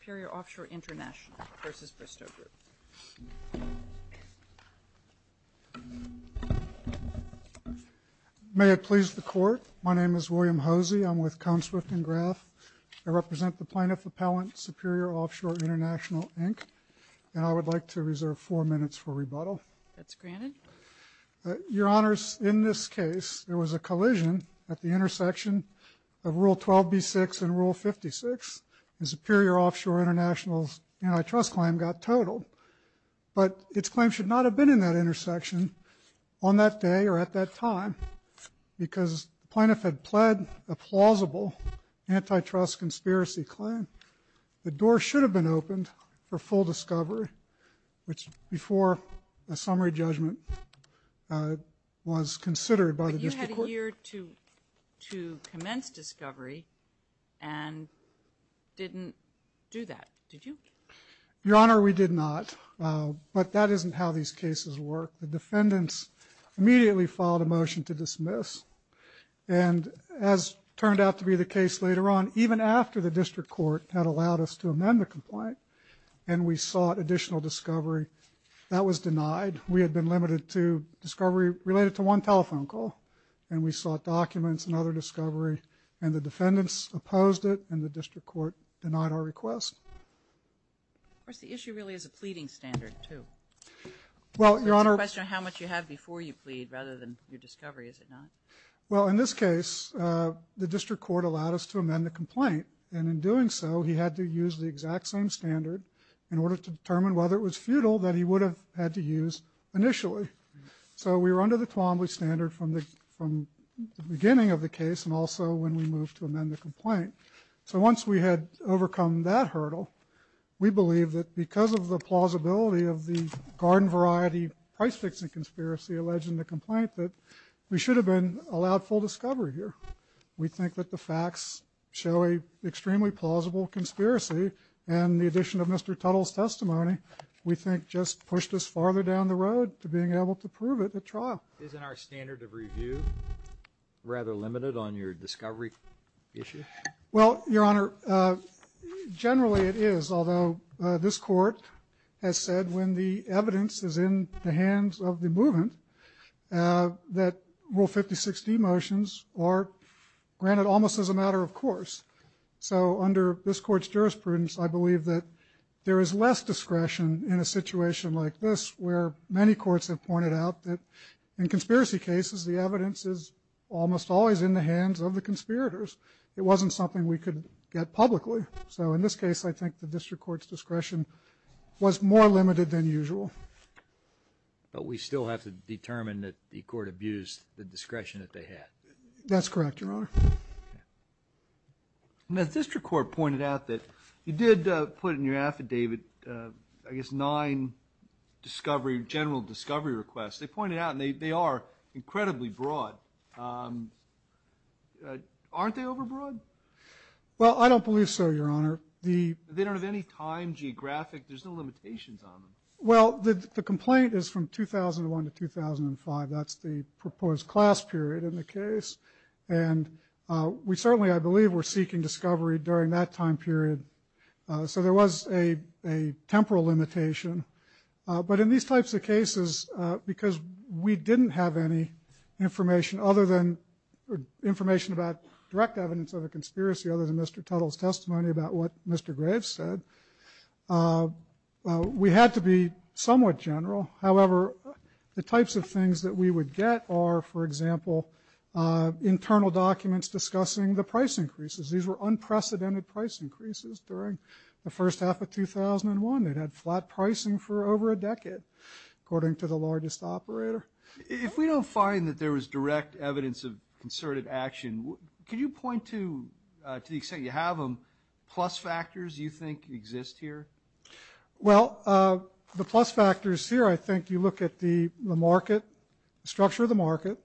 Superior Off Shore International v. Bristow Group May it please the Court, my name is William Hosey, I'm with Coneswift & Graf, I represent the Plaintiff Appellant Superior Off Shore International Inc. and I would like to reserve four minutes for rebuttal. That's granted. Your Honors, in this case there was a collision at the intersection of Rule 12b6 and Rule 56 and Superior Off Shore International's antitrust claim got totaled, but its claim should not have been in that intersection on that day or at that time because the plaintiff had pled a plausible antitrust conspiracy claim. The door should have been opened for full discovery, which before a summary judgment was considered by the District Court. But you had a year to commence discovery and didn't do that, did you? Your Honor, we did not, but that isn't how these cases work. The defendants immediately filed a motion to dismiss and as turned out to be the case later on, even after the District Court had allowed us to amend the complaint and we sought additional discovery, that was denied. We had been limited to discovery related to one telephone call and we sought documents and other discovery and the defendants opposed it and the District Court denied our request. Of course, the issue really is a pleading standard too. It's a question of how much you have before you plead rather than your discovery, is it not? Well, in this case, the District Court allowed us to amend the complaint and in doing so he had to use the exact same standard in order to determine whether it was futile that he would have had to use initially. So we were under the Twombly standard from the beginning of the case and also when we moved to amend the complaint. So once we had overcome that hurdle, we believe that because of the plausibility of the garden variety price fixing conspiracy alleged in the complaint that we should have been allowed full discovery here. We think that the facts show an extremely plausible conspiracy and the addition of Mr. Tuttle's testimony, we think just pushed us farther down the road to being able to prove it at trial. Isn't our standard of review rather limited on your discovery issue? Well, Your Honor, generally it is, although this court has said when the evidence is in the hands of the movement that Rule 56D motions are granted almost as a matter of course. So under this court's jurisprudence, I believe that there is less discretion in a situation like this where many courts have pointed out that in conspiracy cases, the evidence is almost always in the hands of the conspirators. It wasn't something we could get publicly. So in this case, I think the district court's discretion was more limited than usual. But we still have to determine that the court abused the discretion that they had. That's correct, Your Honor. The district court pointed out that you did put in your affidavit, I guess, nine discovery, general discovery requests. They pointed out, and they are incredibly broad, aren't they overbroad? Well, I don't believe so, Your Honor. They don't have any time, geographic, there's no limitations on them. Well, the complaint is from 2001 to 2005. That's the proposed class period in the case. And we certainly, I believe, were seeking discovery during that time period. So there was a temporal limitation. But in these types of cases, because we didn't have any information other than, information about direct evidence of a conspiracy other than Mr. Tuttle's testimony about what Mr. Graves said, we had to be somewhat general. However, the types of things that we would get are, for example, internal documents discussing the price increases. These were unprecedented price increases during the first half of 2001. It had flat pricing for over a decade, according to the largest operator. If we don't find that there was direct evidence of concerted action, can you point to, to the extent you have them, plus factors you think exist here? Well, the plus factors here, I think you look at the market, structure of the market,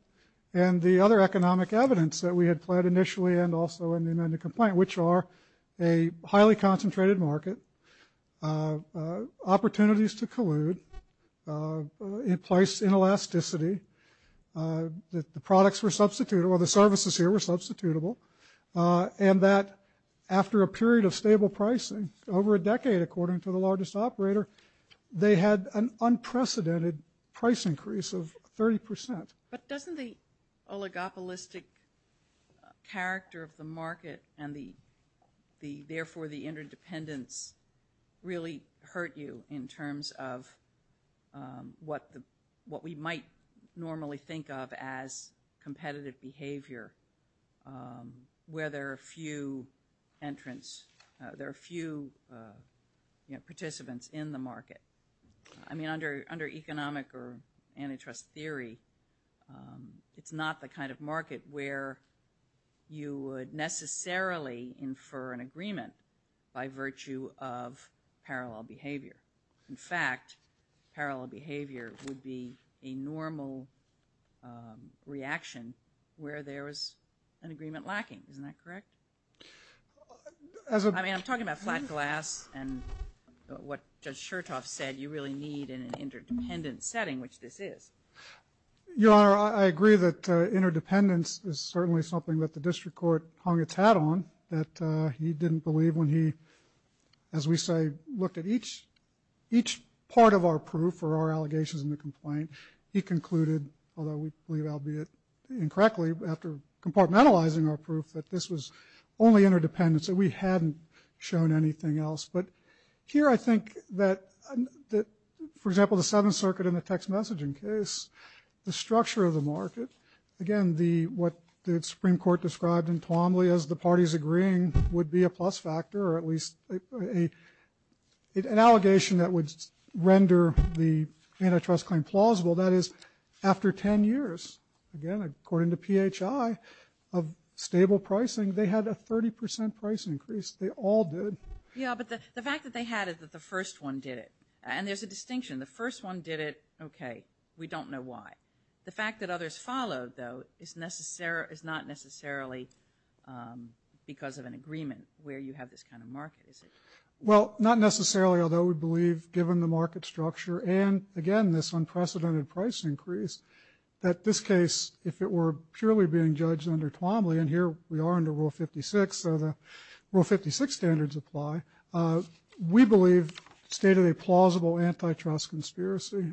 and the other economic evidence that we had pled initially and also in the amended complaint, which are a highly concentrated market, opportunities to collude, in place inelasticity, that the products were substituted, or the services here were substitutable, and that after a decade, according to the largest operator, they had an unprecedented price increase of 30%. But doesn't the oligopolistic character of the market and the, therefore the interdependence really hurt you in terms of what the, what we might normally think of as competitive behavior, where there are few entrants, there are few, you know, participants in the market. I mean, under, under economic or antitrust theory, it's not the kind of market where you would necessarily infer an agreement by virtue of parallel behavior. In fact, parallel behavior would be a normal reaction where there was an agreement lacking. Isn't that correct? As a... I mean, I'm talking about flat glass and what Judge Chertoff said, you really need an interdependent setting, which this is. Your Honor, I agree that interdependence is certainly something that the district court hung its hat on, that he didn't believe when he, as we say, looked at each, each part of our proof or our allegations in the complaint, he concluded, although we believe albeit incorrectly, after compartmentalizing our proof, that this was only interdependence, that we hadn't shown anything else. But here I think that, for example, the Seventh Circuit in the text messaging case, the structure of the market, again, the, what the Supreme Court described in Twombly as the parties agreeing would be a plus factor, or at least an allegation that would render the antitrust claim plausible. That is, after 10 years, again, according to PHI, of stable pricing, they had a 30 percent price increase. They all did. Yeah, but the fact that they had it, that the first one did it, and there's a distinction. The first one did it, okay, we don't know why. The fact that others followed, though, is not necessarily because of an agreement where you have this kind of market, is it? Well, not necessarily, although we believe, given the market structure and, again, this unprecedented price increase, that this case, if it were purely being judged under Twombly, and here we are under Rule 56, so the Rule 56 standards apply, we believe stated a plausible antitrust conspiracy,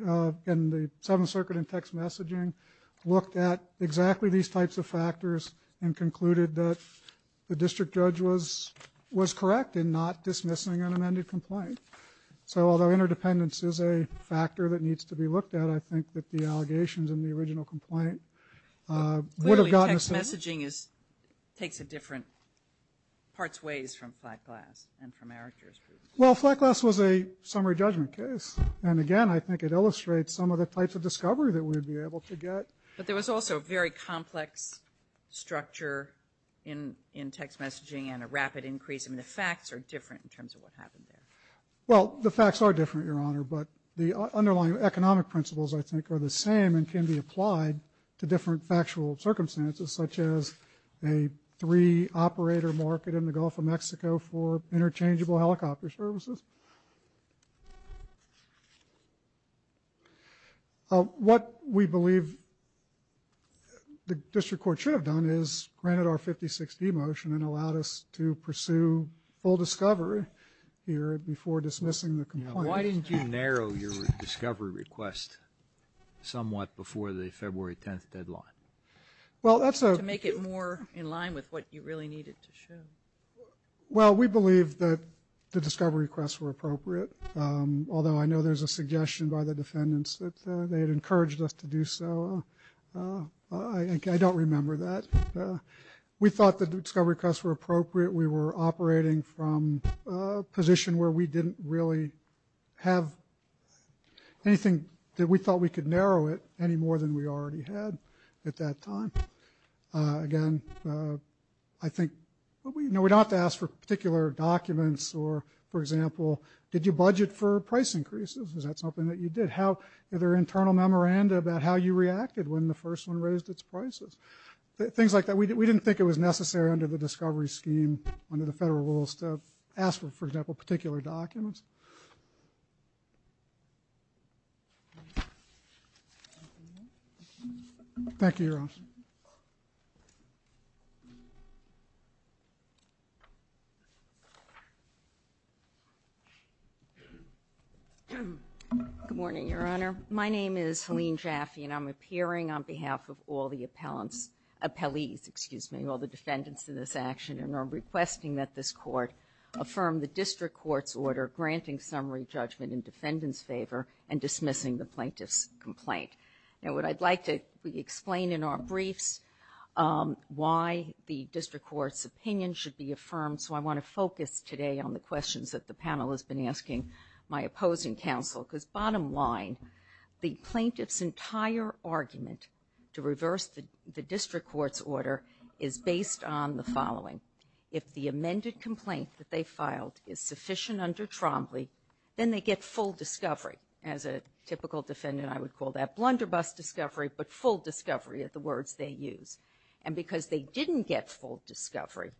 and the Seventh Circuit in text messaging looked at exactly these types of factors and concluded that the district judge was correct in not dismissing an amended complaint. So, although interdependence is a factor that needs to be looked at, I think that the allegations in the original complaint would have gotten assessed. Clearly, text messaging is, takes a different, parts ways from flat glass and from Eric Gershberg's. Well, flat glass was a summary judgment case, and again, I think it illustrates some of the types of discovery that we'd be able to get. But there was also a very complex structure in text messaging and a rapid increase, I mean, the facts are different in terms of what happened there. Well, the facts are different, Your Honor, but the underlying economic principles, I think, are the same and can be applied to different factual circumstances, such as a re-operator market in the Gulf of Mexico for interchangeable helicopter services. What we believe the district court should have done is granted our 56D motion and allowed us to pursue full discovery here before dismissing the complaint. Why didn't you narrow your discovery request somewhat before the February 10th deadline? To make it more in line with what you really needed to show. Well, we believe that the discovery requests were appropriate, although I know there's a suggestion by the defendants that they had encouraged us to do so. I don't remember that. We thought the discovery requests were appropriate. We were operating from a position where we didn't really have anything that we thought we could narrow it any more than we already had at that time. Again, I think, you know, we don't have to ask for particular documents or, for example, did you budget for price increases, is that something that you did? How, is there an internal memoranda about how you reacted when the first one raised its prices? Things like that. We didn't think it was necessary under the discovery scheme under the federal rules to ask for, for example, particular documents. Thank you, Your Honor. Good morning, Your Honor. My name is Helene Jaffe, and I'm appearing on behalf of all the appellants, appellees, excuse me, all the defendants in this action, and I'm requesting that this court affirm the district court's order granting summary judgment in defendant's favor and dismissing the plaintiff's complaint. Now, what I'd like to explain in our briefs, why the district court's opinion should be affirmed, so I want to focus today on the questions that the panel has been asking my opposing counsel, because bottom line, the plaintiff's entire argument to reverse the district court's order is based on the following. If the amended complaint that they filed is sufficient under Trombley, then they get full discovery. As a typical defendant, I would call that blunderbuss discovery, but full discovery are the words they use. And because they didn't get full discovery,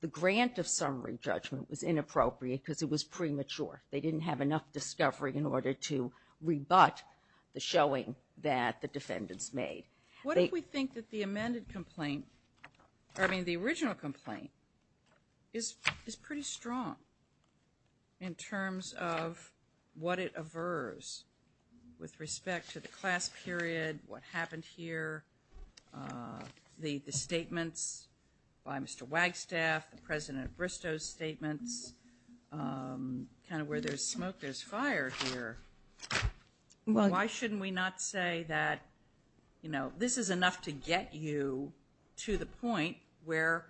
the grant of summary judgment was inappropriate because it was premature. They didn't have enough discovery in order to rebut the showing that the defendants made. What if we think that the amended complaint, I mean the original complaint, is pretty strong in terms of what it averves with respect to the class period, what happened here, the statements by Mr. Wagstaff, the President of Bristow's statements, kind of where there's smoke there's fire here. Why shouldn't we not say that this is enough to get you to the point where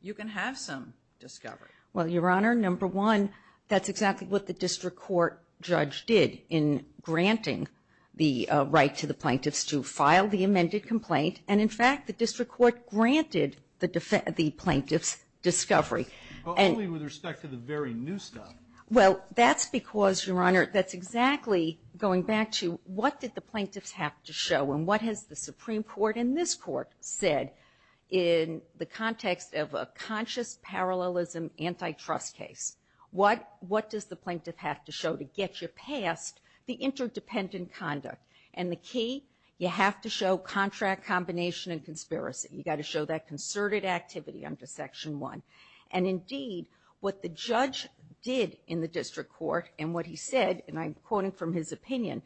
you can have some discovery? Well, Your Honor, number one, that's exactly what the district court judge did in granting the right to the plaintiffs to file the amended complaint, and in fact the district court granted the plaintiffs discovery. Only with respect to the very new stuff. Well, that's because, Your Honor, that's exactly going back to what did the plaintiffs have to show and what has the Supreme Court and this Court said in the context of a conscious parallelism antitrust case. What does the plaintiff have to show to get you past the interdependent conduct? And the key, you have to show contract combination and conspiracy. You got to show that concerted activity under Section 1. And indeed, what the judge did in the district court and what he said, and I'm quoting from his opinion,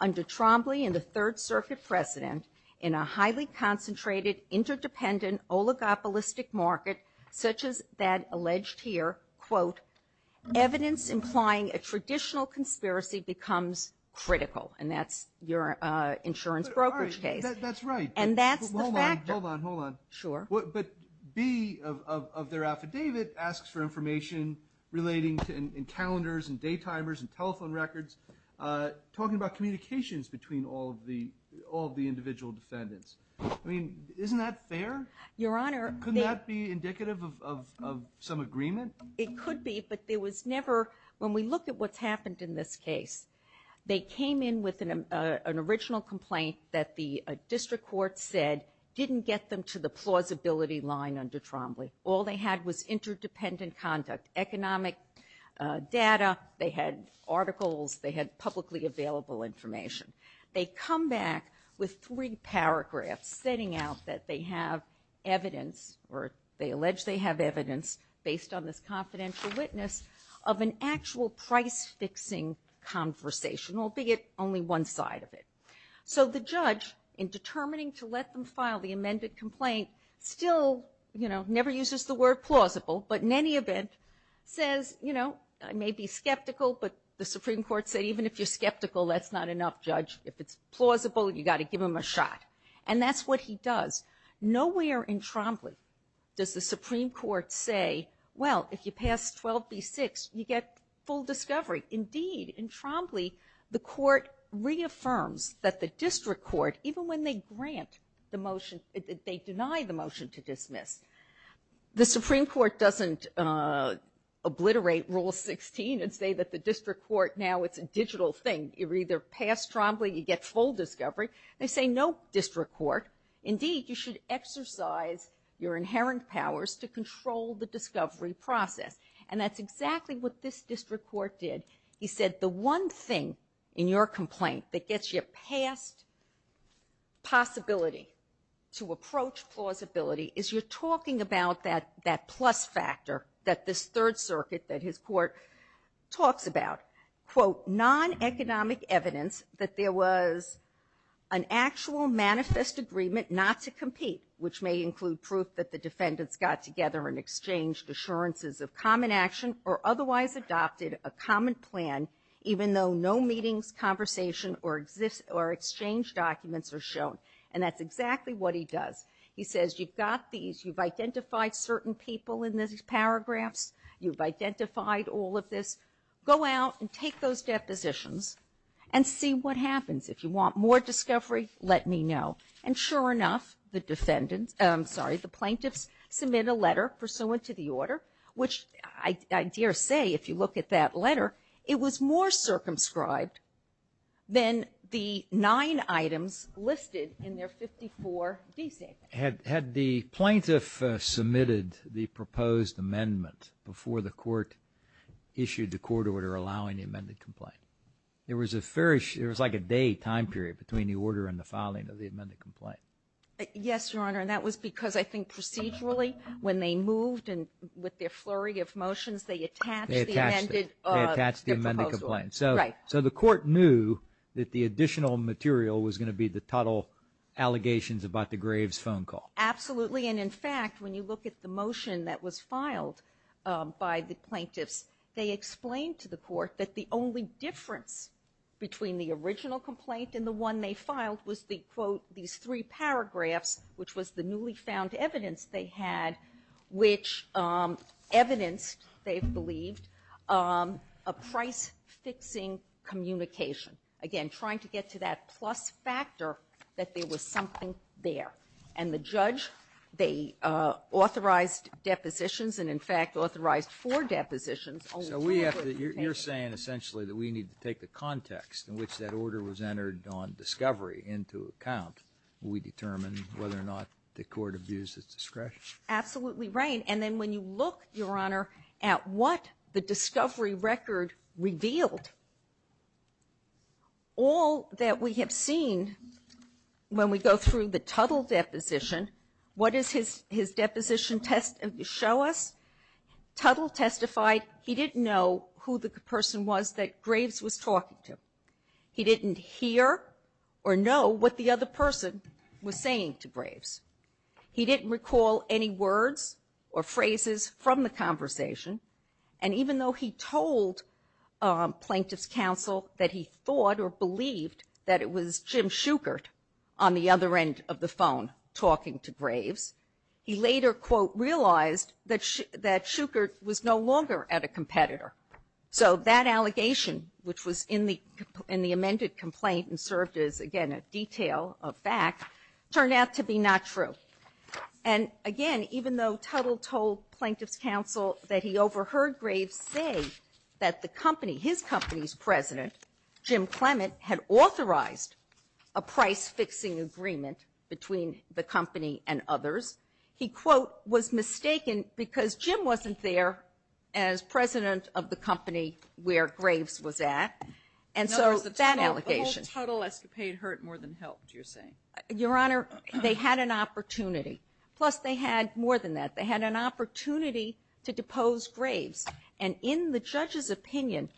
under Trombley and the Third Circuit President in a highly concentrated interdependent oligopolistic market such as that alleged here, quote, evidence implying a traditional conspiracy becomes critical. And that's your insurance brokerage case. That's right. And that's the fact. Hold on, hold on, hold on. Sure. But B of their affidavit asks for information relating to encounters and day timers and telephone records, talking about communications between all of the individual defendants. I mean, isn't that fair? Your Honor. Couldn't that be indicative of some agreement? It could be, but there was never, when we look at what's happened in this case, they came in with an original complaint that the district court said didn't get them to the plausibility line under Trombley. All they had was interdependent conduct, economic data. They had articles. They had publicly available information. They come back with three paragraphs stating out that they have evidence or they allege they have evidence based on this confidential witness of an actual price fixing conversation, albeit only one side of it. So the judge, in determining to let them file the amended complaint, still, you know, never uses the word plausible, but in any event, says, you know, I may be skeptical, but the Supreme Court said, even if you're skeptical, that's not enough, Judge. If it's plausible, you got to give him a shot. And that's what he does. Nowhere in Trombley does the Supreme Court say, well, if you pass 12B6, you get full discovery. Indeed, in Trombley, the court reaffirms that the district court, even when they grant the motion, they deny the motion to dismiss, the Supreme Court doesn't obliterate Rule 16 and say that the district court, now it's a digital thing. You either pass Trombley, you get full discovery. They say, no, district court, indeed, you should exercise your inherent powers to control the discovery process. And that's exactly what this district court did. He said, the one thing in your complaint that gets you past possibility to approach plausibility is you're talking about that, that plus factor that this Third Circuit, that his court talks about, quote, non-economic evidence that there was an actual manifest agreement not to compete, which may include proof that the defendants got together and exchanged assurances of common action or otherwise adopted a common plan, even though no meetings, conversation, or exchange documents are shown. And that's exactly what he does. He says, you've got these, you've identified certain people in these paragraphs, you've identified all of this. Go out and take those depositions and see what happens. If you want more discovery, let me know. And sure enough, the plaintiffs submit a letter pursuant to the order, which I dare say, if you look at that letter, it was more circumscribed than the nine items listed in their 54 d statements. Had the plaintiff submitted the proposed amendment before the court issued the court order allowing the amended complaint? There was a very, it was like a day time period between the order and the filing of the amended complaint. Yes, Your Honor. And that was because I think procedurally, when they moved and with their flurry of motions, they attached the amended, their proposal. They attached it. They attached the amended complaint. Right. So the court knew that the additional material was going to be the total allegations about the Graves phone call. Absolutely. And in fact, when you look at the motion that was filed by the plaintiffs, they explained to the court that the only difference between the original complaint and the one they filed was the, quote, these three paragraphs, which was the newly found evidence they had, which evidenced, they believed, a price-fixing communication, again, trying to get to that plus factor that there was something there. And the judge, they authorized depositions and, in fact, authorized four depositions only. You're saying, essentially, that we need to take the context in which that order was entered on discovery into account when we determine whether or not the court abused its discretion. Absolutely right. And then when you look, Your Honor, at what the discovery record revealed, all that we have seen when we go through the Tuttle deposition, what does his deposition show us? Tuttle testified he didn't know who the person was that Graves was talking to. He didn't hear or know what the other person was saying to Graves. He didn't recall any words or phrases from the conversation. And even though he told Plaintiff's Counsel that he thought or believed that it was Jim Shukert on the other end of the phone talking to Graves, he later, quote, realized that Shukert was no longer at a competitor. So that allegation, which was in the amended complaint and served as, again, a detail of fact, turned out to be not true. And again, even though Tuttle told Plaintiff's Counsel that he overheard Graves say that the company, his company's president, Jim Clement, had authorized a price-fixing agreement between the company and others, he, quote, was mistaken because Jim wasn't there as president of the company where Graves was at, and so that allegation The whole Tuttle escapade hurt more than helped, you're saying. Your Honor, they had an opportunity. Plus, they had more than that. They had an opportunity to depose Graves. And in the judge's opinion,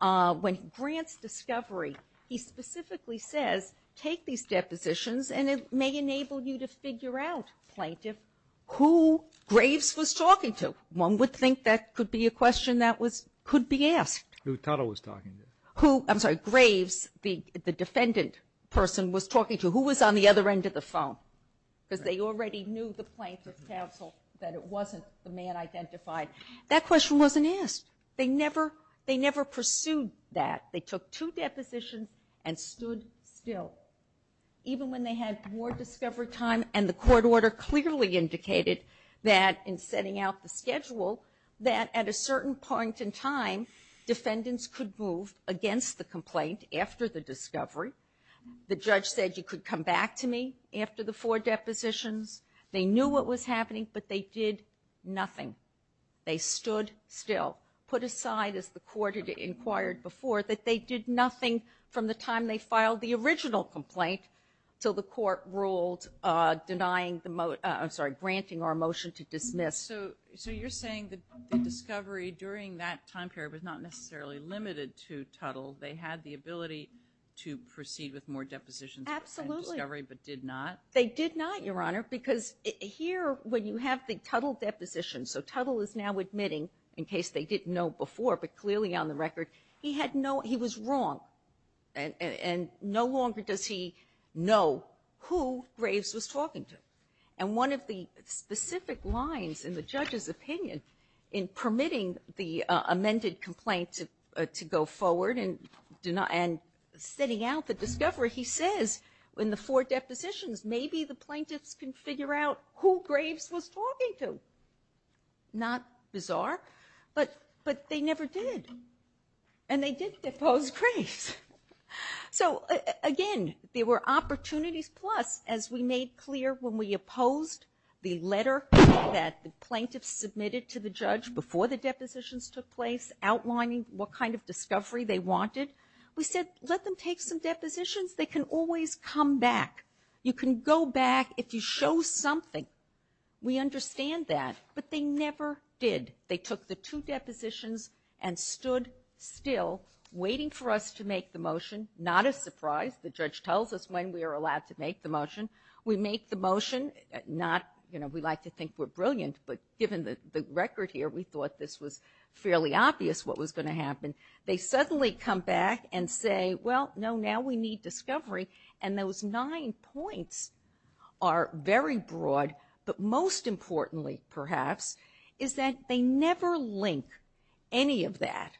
when Grant's discovery, he specifically says, take these depositions and it may enable you to figure out, Plaintiff, who Graves was talking to. One would think that could be a question that was, could be asked. Who Tuttle was talking to. Who, I'm sorry, Graves, the defendant person, was talking to. Who was on the other end of the phone? Because they already knew the Plaintiff's Counsel that it wasn't the man identified. That question wasn't asked. They never, they never pursued that. They took two depositions and stood still. Even when they had more discovery time, and the court order clearly indicated that, in setting out the schedule, that at a certain point in time, defendants could move against the complaint after the discovery. The judge said you could come back to me after the four depositions. They knew what was happening, but they did nothing. They stood still. Put aside, as the court had inquired before, that they did nothing from the time they filed the original complaint, till the court ruled denying the, I'm sorry, granting our motion to dismiss. So, so you're saying that the discovery during that time period was not necessarily limited to Tuttle, they had the ability to proceed with more depositions. Absolutely. And discovery, but did not. They did not, Your Honor, because here, when you have the Tuttle depositions, so admitting, in case they didn't know before, but clearly on the record, he had no, he was wrong, and, and, and no longer does he know who Graves was talking to. And one of the specific lines in the judge's opinion in permitting the amended complaint to, to go forward and do not, and setting out the discovery. He says, in the four depositions, maybe the plaintiffs can figure out who Graves was talking to. Not bizarre, but, but they never did, and they did depose Graves. So again, there were opportunities, plus, as we made clear when we opposed the letter that the plaintiffs submitted to the judge before the depositions took place, outlining what kind of discovery they wanted, we said, let them take some depositions, they can always come back. You can go back, if you show something. We understand that, but they never did. They took the two depositions and stood still, waiting for us to make the motion. Not a surprise, the judge tells us when we are allowed to make the motion. We make the motion, not, you know, we like to think we're brilliant, but given the, the record here, we thought this was fairly obvious what was gonna happen. They suddenly come back and say, well, no, now we need discovery. And those nine points are very broad, but most importantly, perhaps, is that they never link any of that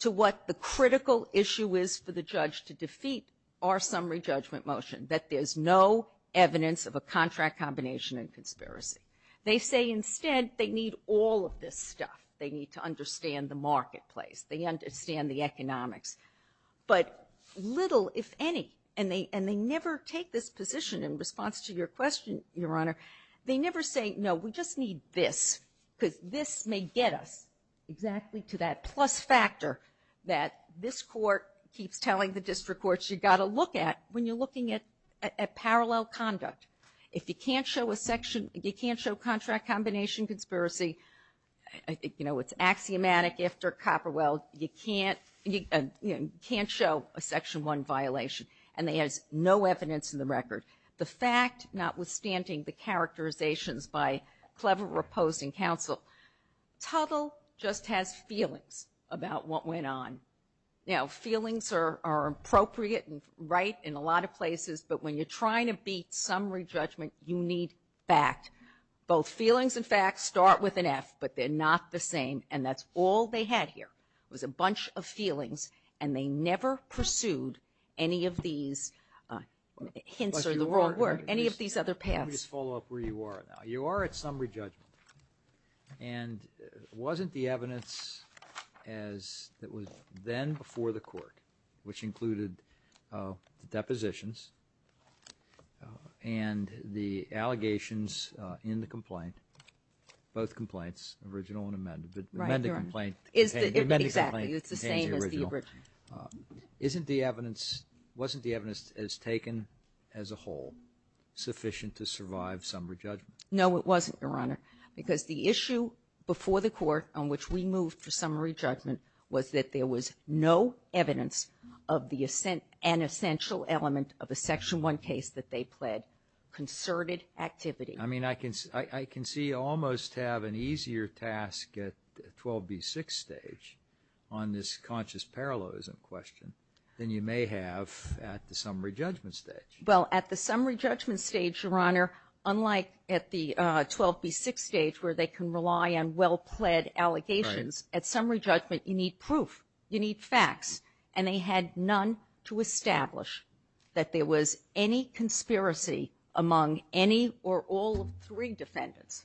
to what the critical issue is for the judge to defeat our summary judgment motion, that there's no evidence of a contract combination and conspiracy. They say instead, they need all of this stuff. They need to understand the marketplace. They understand the economics. But little, if any, and they, and they never take this position in response to your question, your honor, they never say, no, we just need this, cuz this may get us exactly to that plus factor that this court keeps telling the district courts, you gotta look at when you're looking at, at, at parallel conduct. If you can't show a section, you can't show contract combination conspiracy, you know, it's axiomatic after Copperwell, you can't, you can't show a section one violation, and there's no evidence in the record. The fact, notwithstanding the characterizations by clever opposing counsel, Tuttle just has feelings about what went on. Now, feelings are, are appropriate and right in a lot of places, but when you're trying to beat summary judgment, you need fact. Both feelings and facts start with an F, but they're not the same, and that's all they had here, was a bunch of feelings, and they never pursued any of these hints are the wrong word, any of these other paths. Let me just follow up where you are now. You are at summary judgment, and wasn't the evidence as, it was then before the court, which included the depositions, and the allegations in the complaint, both complaints, original and amended. But the amended complaint, the amended complaint, is the same as the original. Isn't the evidence, wasn't the evidence as taken as a whole, sufficient to survive summary judgment? No, it wasn't, Your Honor, because the issue before the court on which we moved to summary judgment was that there was no evidence of the, an essential element of a section one case that they pled, concerted activity. I mean, I can, I can see almost have an easier task at 12B6 stage on this conscious parallelism question than you may have at the summary judgment stage. Well, at the summary judgment stage, Your Honor, unlike at the 12B6 stage, where they can rely on well-pled allegations, at summary judgment, you need proof. You need facts, and they had none to establish that there was any conspiracy among any or all three defendants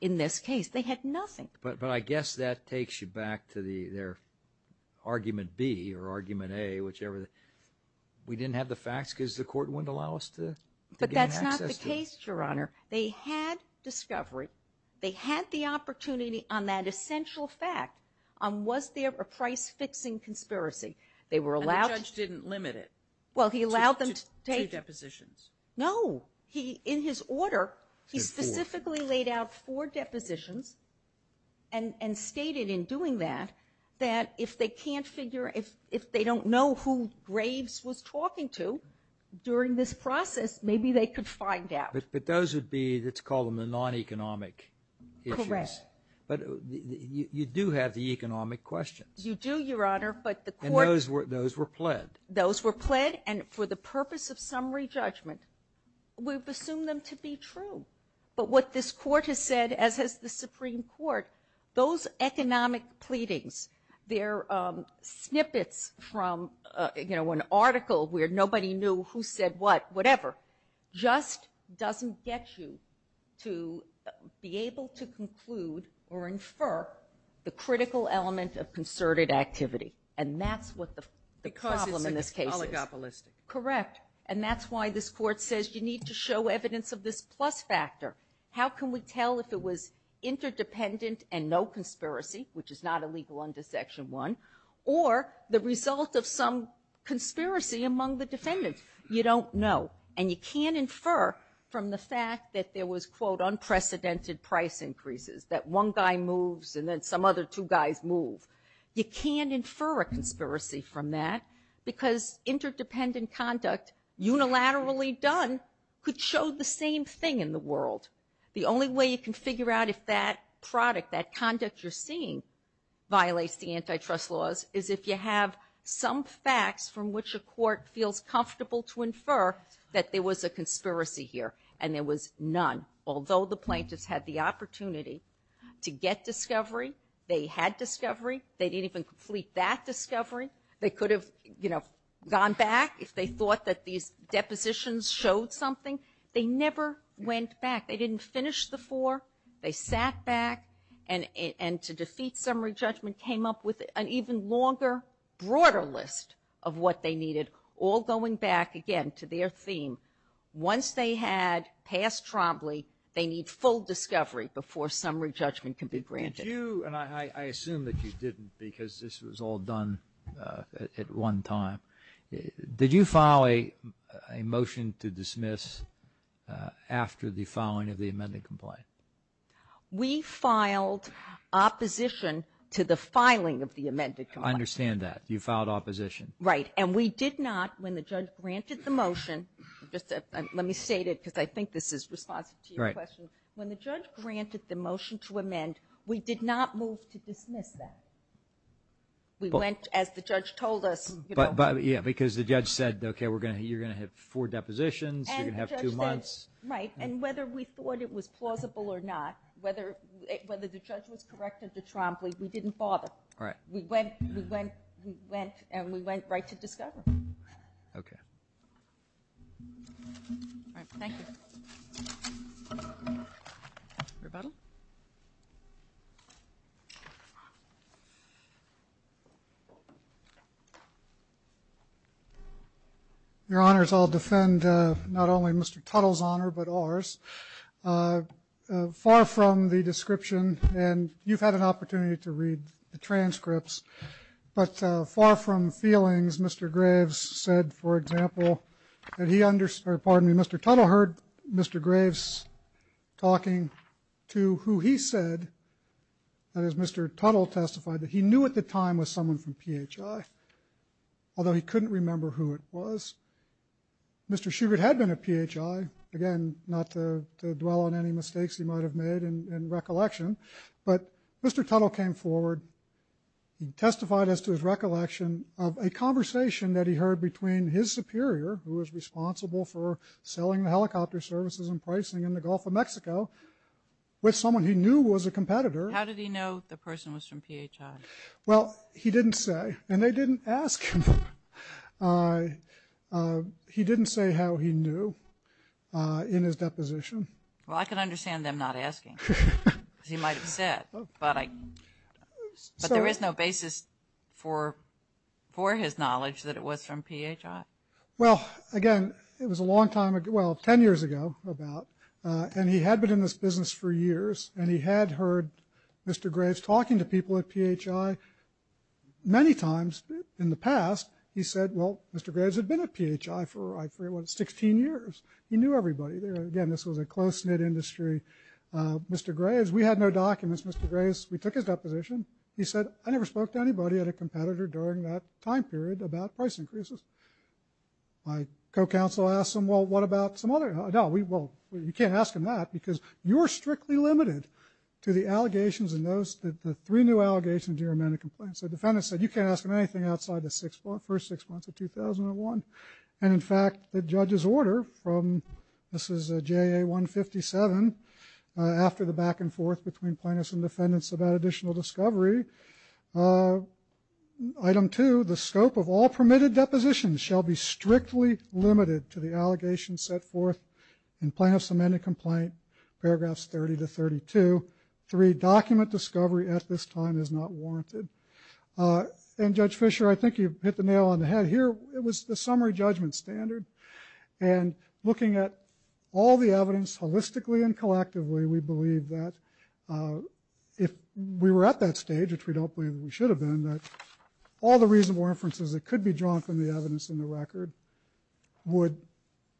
in this case. They had nothing. But, but I guess that takes you back to the, their argument B or argument A, whichever, we didn't have the facts because the court wouldn't allow us to. But that's not the case, Your Honor. They had discovery. They had the opportunity on that essential fact. On was there a price-fixing conspiracy. They were allowed. And the judge didn't limit it. Well, he allowed them to take. To, to depositions. No. He, in his order, he specifically laid out four depositions and, and stated in doing that, that if they can't figure, if, if they don't know who Graves was talking to during this process, maybe they could find out. Correct. But you, you do have the economic questions. You do, Your Honor, but the court. And those were, those were pled. Those were pled, and for the purpose of summary judgment, we've assumed them to be true. But what this court has said, as has the Supreme Court, those economic pleadings, they're snippets from, you know, an article where nobody knew who said what, whatever. Just doesn't get you to be able to conclude or infer the critical element of concerted activity. And that's what the, the problem in this case is. Because it's oligopolistic. Correct. And that's why this court says you need to show evidence of this plus factor. How can we tell if it was interdependent and no conspiracy, which is not illegal under section one, or the result of some conspiracy among the defendants? You don't know. And you can't infer from the fact that there was, quote, unprecedented price increases, that one guy moves, and then some other two guys move. You can't infer a conspiracy from that, because interdependent conduct, unilaterally done, could show the same thing in the world. The only way you can figure out if that product, that conduct you're seeing, violates the antitrust laws, is if you have some facts from which a court feels comfortable to infer that there was a conspiracy here, and there was none. Although the plaintiffs had the opportunity to get discovery, they had discovery, they didn't even complete that discovery. They could have, you know, gone back if they thought that these depositions showed something. They never went back. They didn't finish the four. They sat back and, and to defeat summary judgment, came up with an even longer, broader list of what they needed. All going back, again, to their theme, once they had passed Trombley, they need full discovery before summary judgment can be granted. Did you, and I assume that you didn't, because this was all done at one time. Did you file a motion to dismiss after the filing of the amended complaint? We filed opposition to the filing of the amended complaint. I understand that. You filed opposition. Right, and we did not, when the judge granted the motion, just let me state it, because I think this is responsive to your question. When the judge granted the motion to amend, we did not move to dismiss that. We went, as the judge told us. But, but yeah, because the judge said, okay, we're going to, you're going to have four depositions, you're going to have two months. Right, and whether we thought it was plausible or not, whether, whether the judge was correct at the Trombley, we didn't bother. Right. We went, we went, we went, and we went right to discovery. Okay. All right, thank you. Rebuttal. Your Honors, I'll defend not only Mr. Tuttle's honor, but ours. Far from the description, and you've had an opportunity to read the transcripts, but far from feelings, Mr. Graves said, for example, that he, or pardon me, Mr. Tuttle heard Mr. Graves talking to who he said, that is, Mr. Tuttle testified that he knew at the time was someone from PHI. Although he couldn't remember who it was. Mr. Schubert had been a PHI. Again, not to, to dwell on any mistakes he might have made in, in recollection, but Mr. Tuttle came forward, he testified as to his recollection of a conversation that he heard between his superior, who was responsible for selling the helicopter services and pricing in the Gulf of Mexico, with someone he knew was a competitor. How did he know the person was from PHI? Well, he didn't say, and they didn't ask him, he didn't say how he knew. In his deposition. Well, I can understand them not asking. He might have said, but I, but there is no basis for, for his knowledge that it was from PHI. Well, again, it was a long time ago, well, ten years ago, about. And he had been in this business for years, and he had heard Mr. Graves talking to people at PHI many times in the past. He said, well, Mr. Graves had been at PHI for, I forget what, 16 years. He knew everybody there. Again, this was a close-knit industry. Mr. Graves, we had no documents. Mr. Graves, we took his deposition. He said, I never spoke to anybody at a competitor during that time period about price increases. My co-counsel asked him, well, what about some other? No, we, well, you can't ask him that because you're strictly limited to the allegations and those, the, the three new allegations you're a man to complain. So the defendant said, you can't ask him anything outside the six, first six months of 2001. And in fact, the judge's order from, this is JA 157, after the back and forth between plaintiffs and defendants about additional discovery, item two, the scope of all permitted depositions shall be strictly limited to the allegations set forth in plaintiff's amended complaint, paragraphs 30 to 32, three, document discovery at this time is not warranted. And Judge Fischer, I think you hit the nail on the head here. It was the summary judgment standard. And looking at all the evidence holistically and collectively, we believe that if we were at that stage, which we don't believe we should have been, that all the reasonable inferences that could be drawn from the evidence in the record would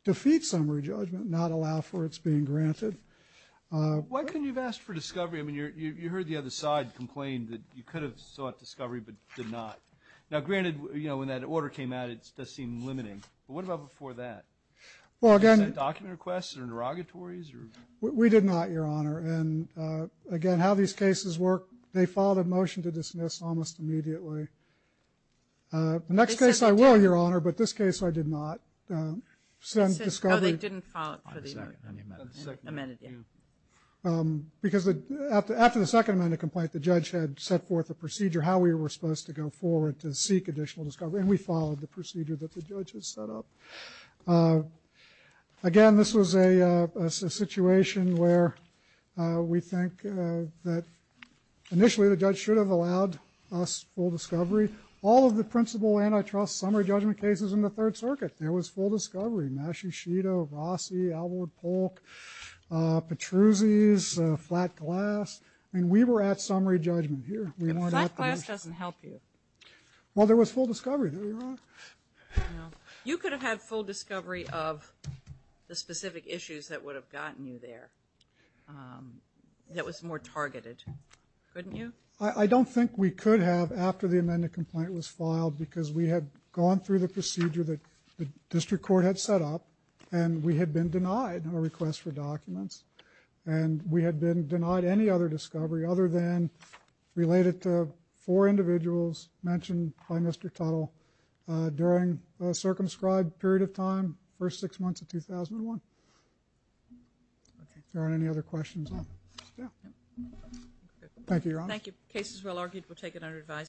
defeat summary judgment, not allow for its being granted. Why couldn't you have asked for discovery? I mean, you're, you, you heard the other side complain that you could have sought discovery, but did not. Now, granted, you know, when that order came out, it does seem limiting, but what about before that? Well, again, document requests or interrogatories or? We did not, Your Honor. And again, how these cases work, they filed a motion to dismiss almost immediately. The next case, I will, Your Honor, but this case I did not. Send discovery. Oh, they didn't file it for the amended, yeah. Because after the second amended complaint, the judge had set forth a procedure how we were supposed to go forward to seek additional discovery, and we followed the procedure that the judge had set up. Again, this was a situation where we think that initially the judge should have allowed us full discovery. All of the principal antitrust summary judgment cases in the Third Circuit, there was full discovery. Maschieschito, Rossi, Alvord, Polk, Petruzzi's, Flat Glass. I mean, we were at summary judgment here. Flat Glass doesn't help you. Well, there was full discovery, Your Honor. You could have had full discovery of the specific issues that would have gotten you there. That was more targeted, couldn't you? I don't think we could have after the amended complaint was filed because we had gone through the procedure that the district court had set up and we had been denied a request for documents. And we had been denied any other discovery other than related to four individuals mentioned by Mr. Tuttle during a circumscribed period of time, first six months of 2001. There aren't any other questions. Thank you, Your Honor. Thank you. Case is well argued. We'll take it under advisory.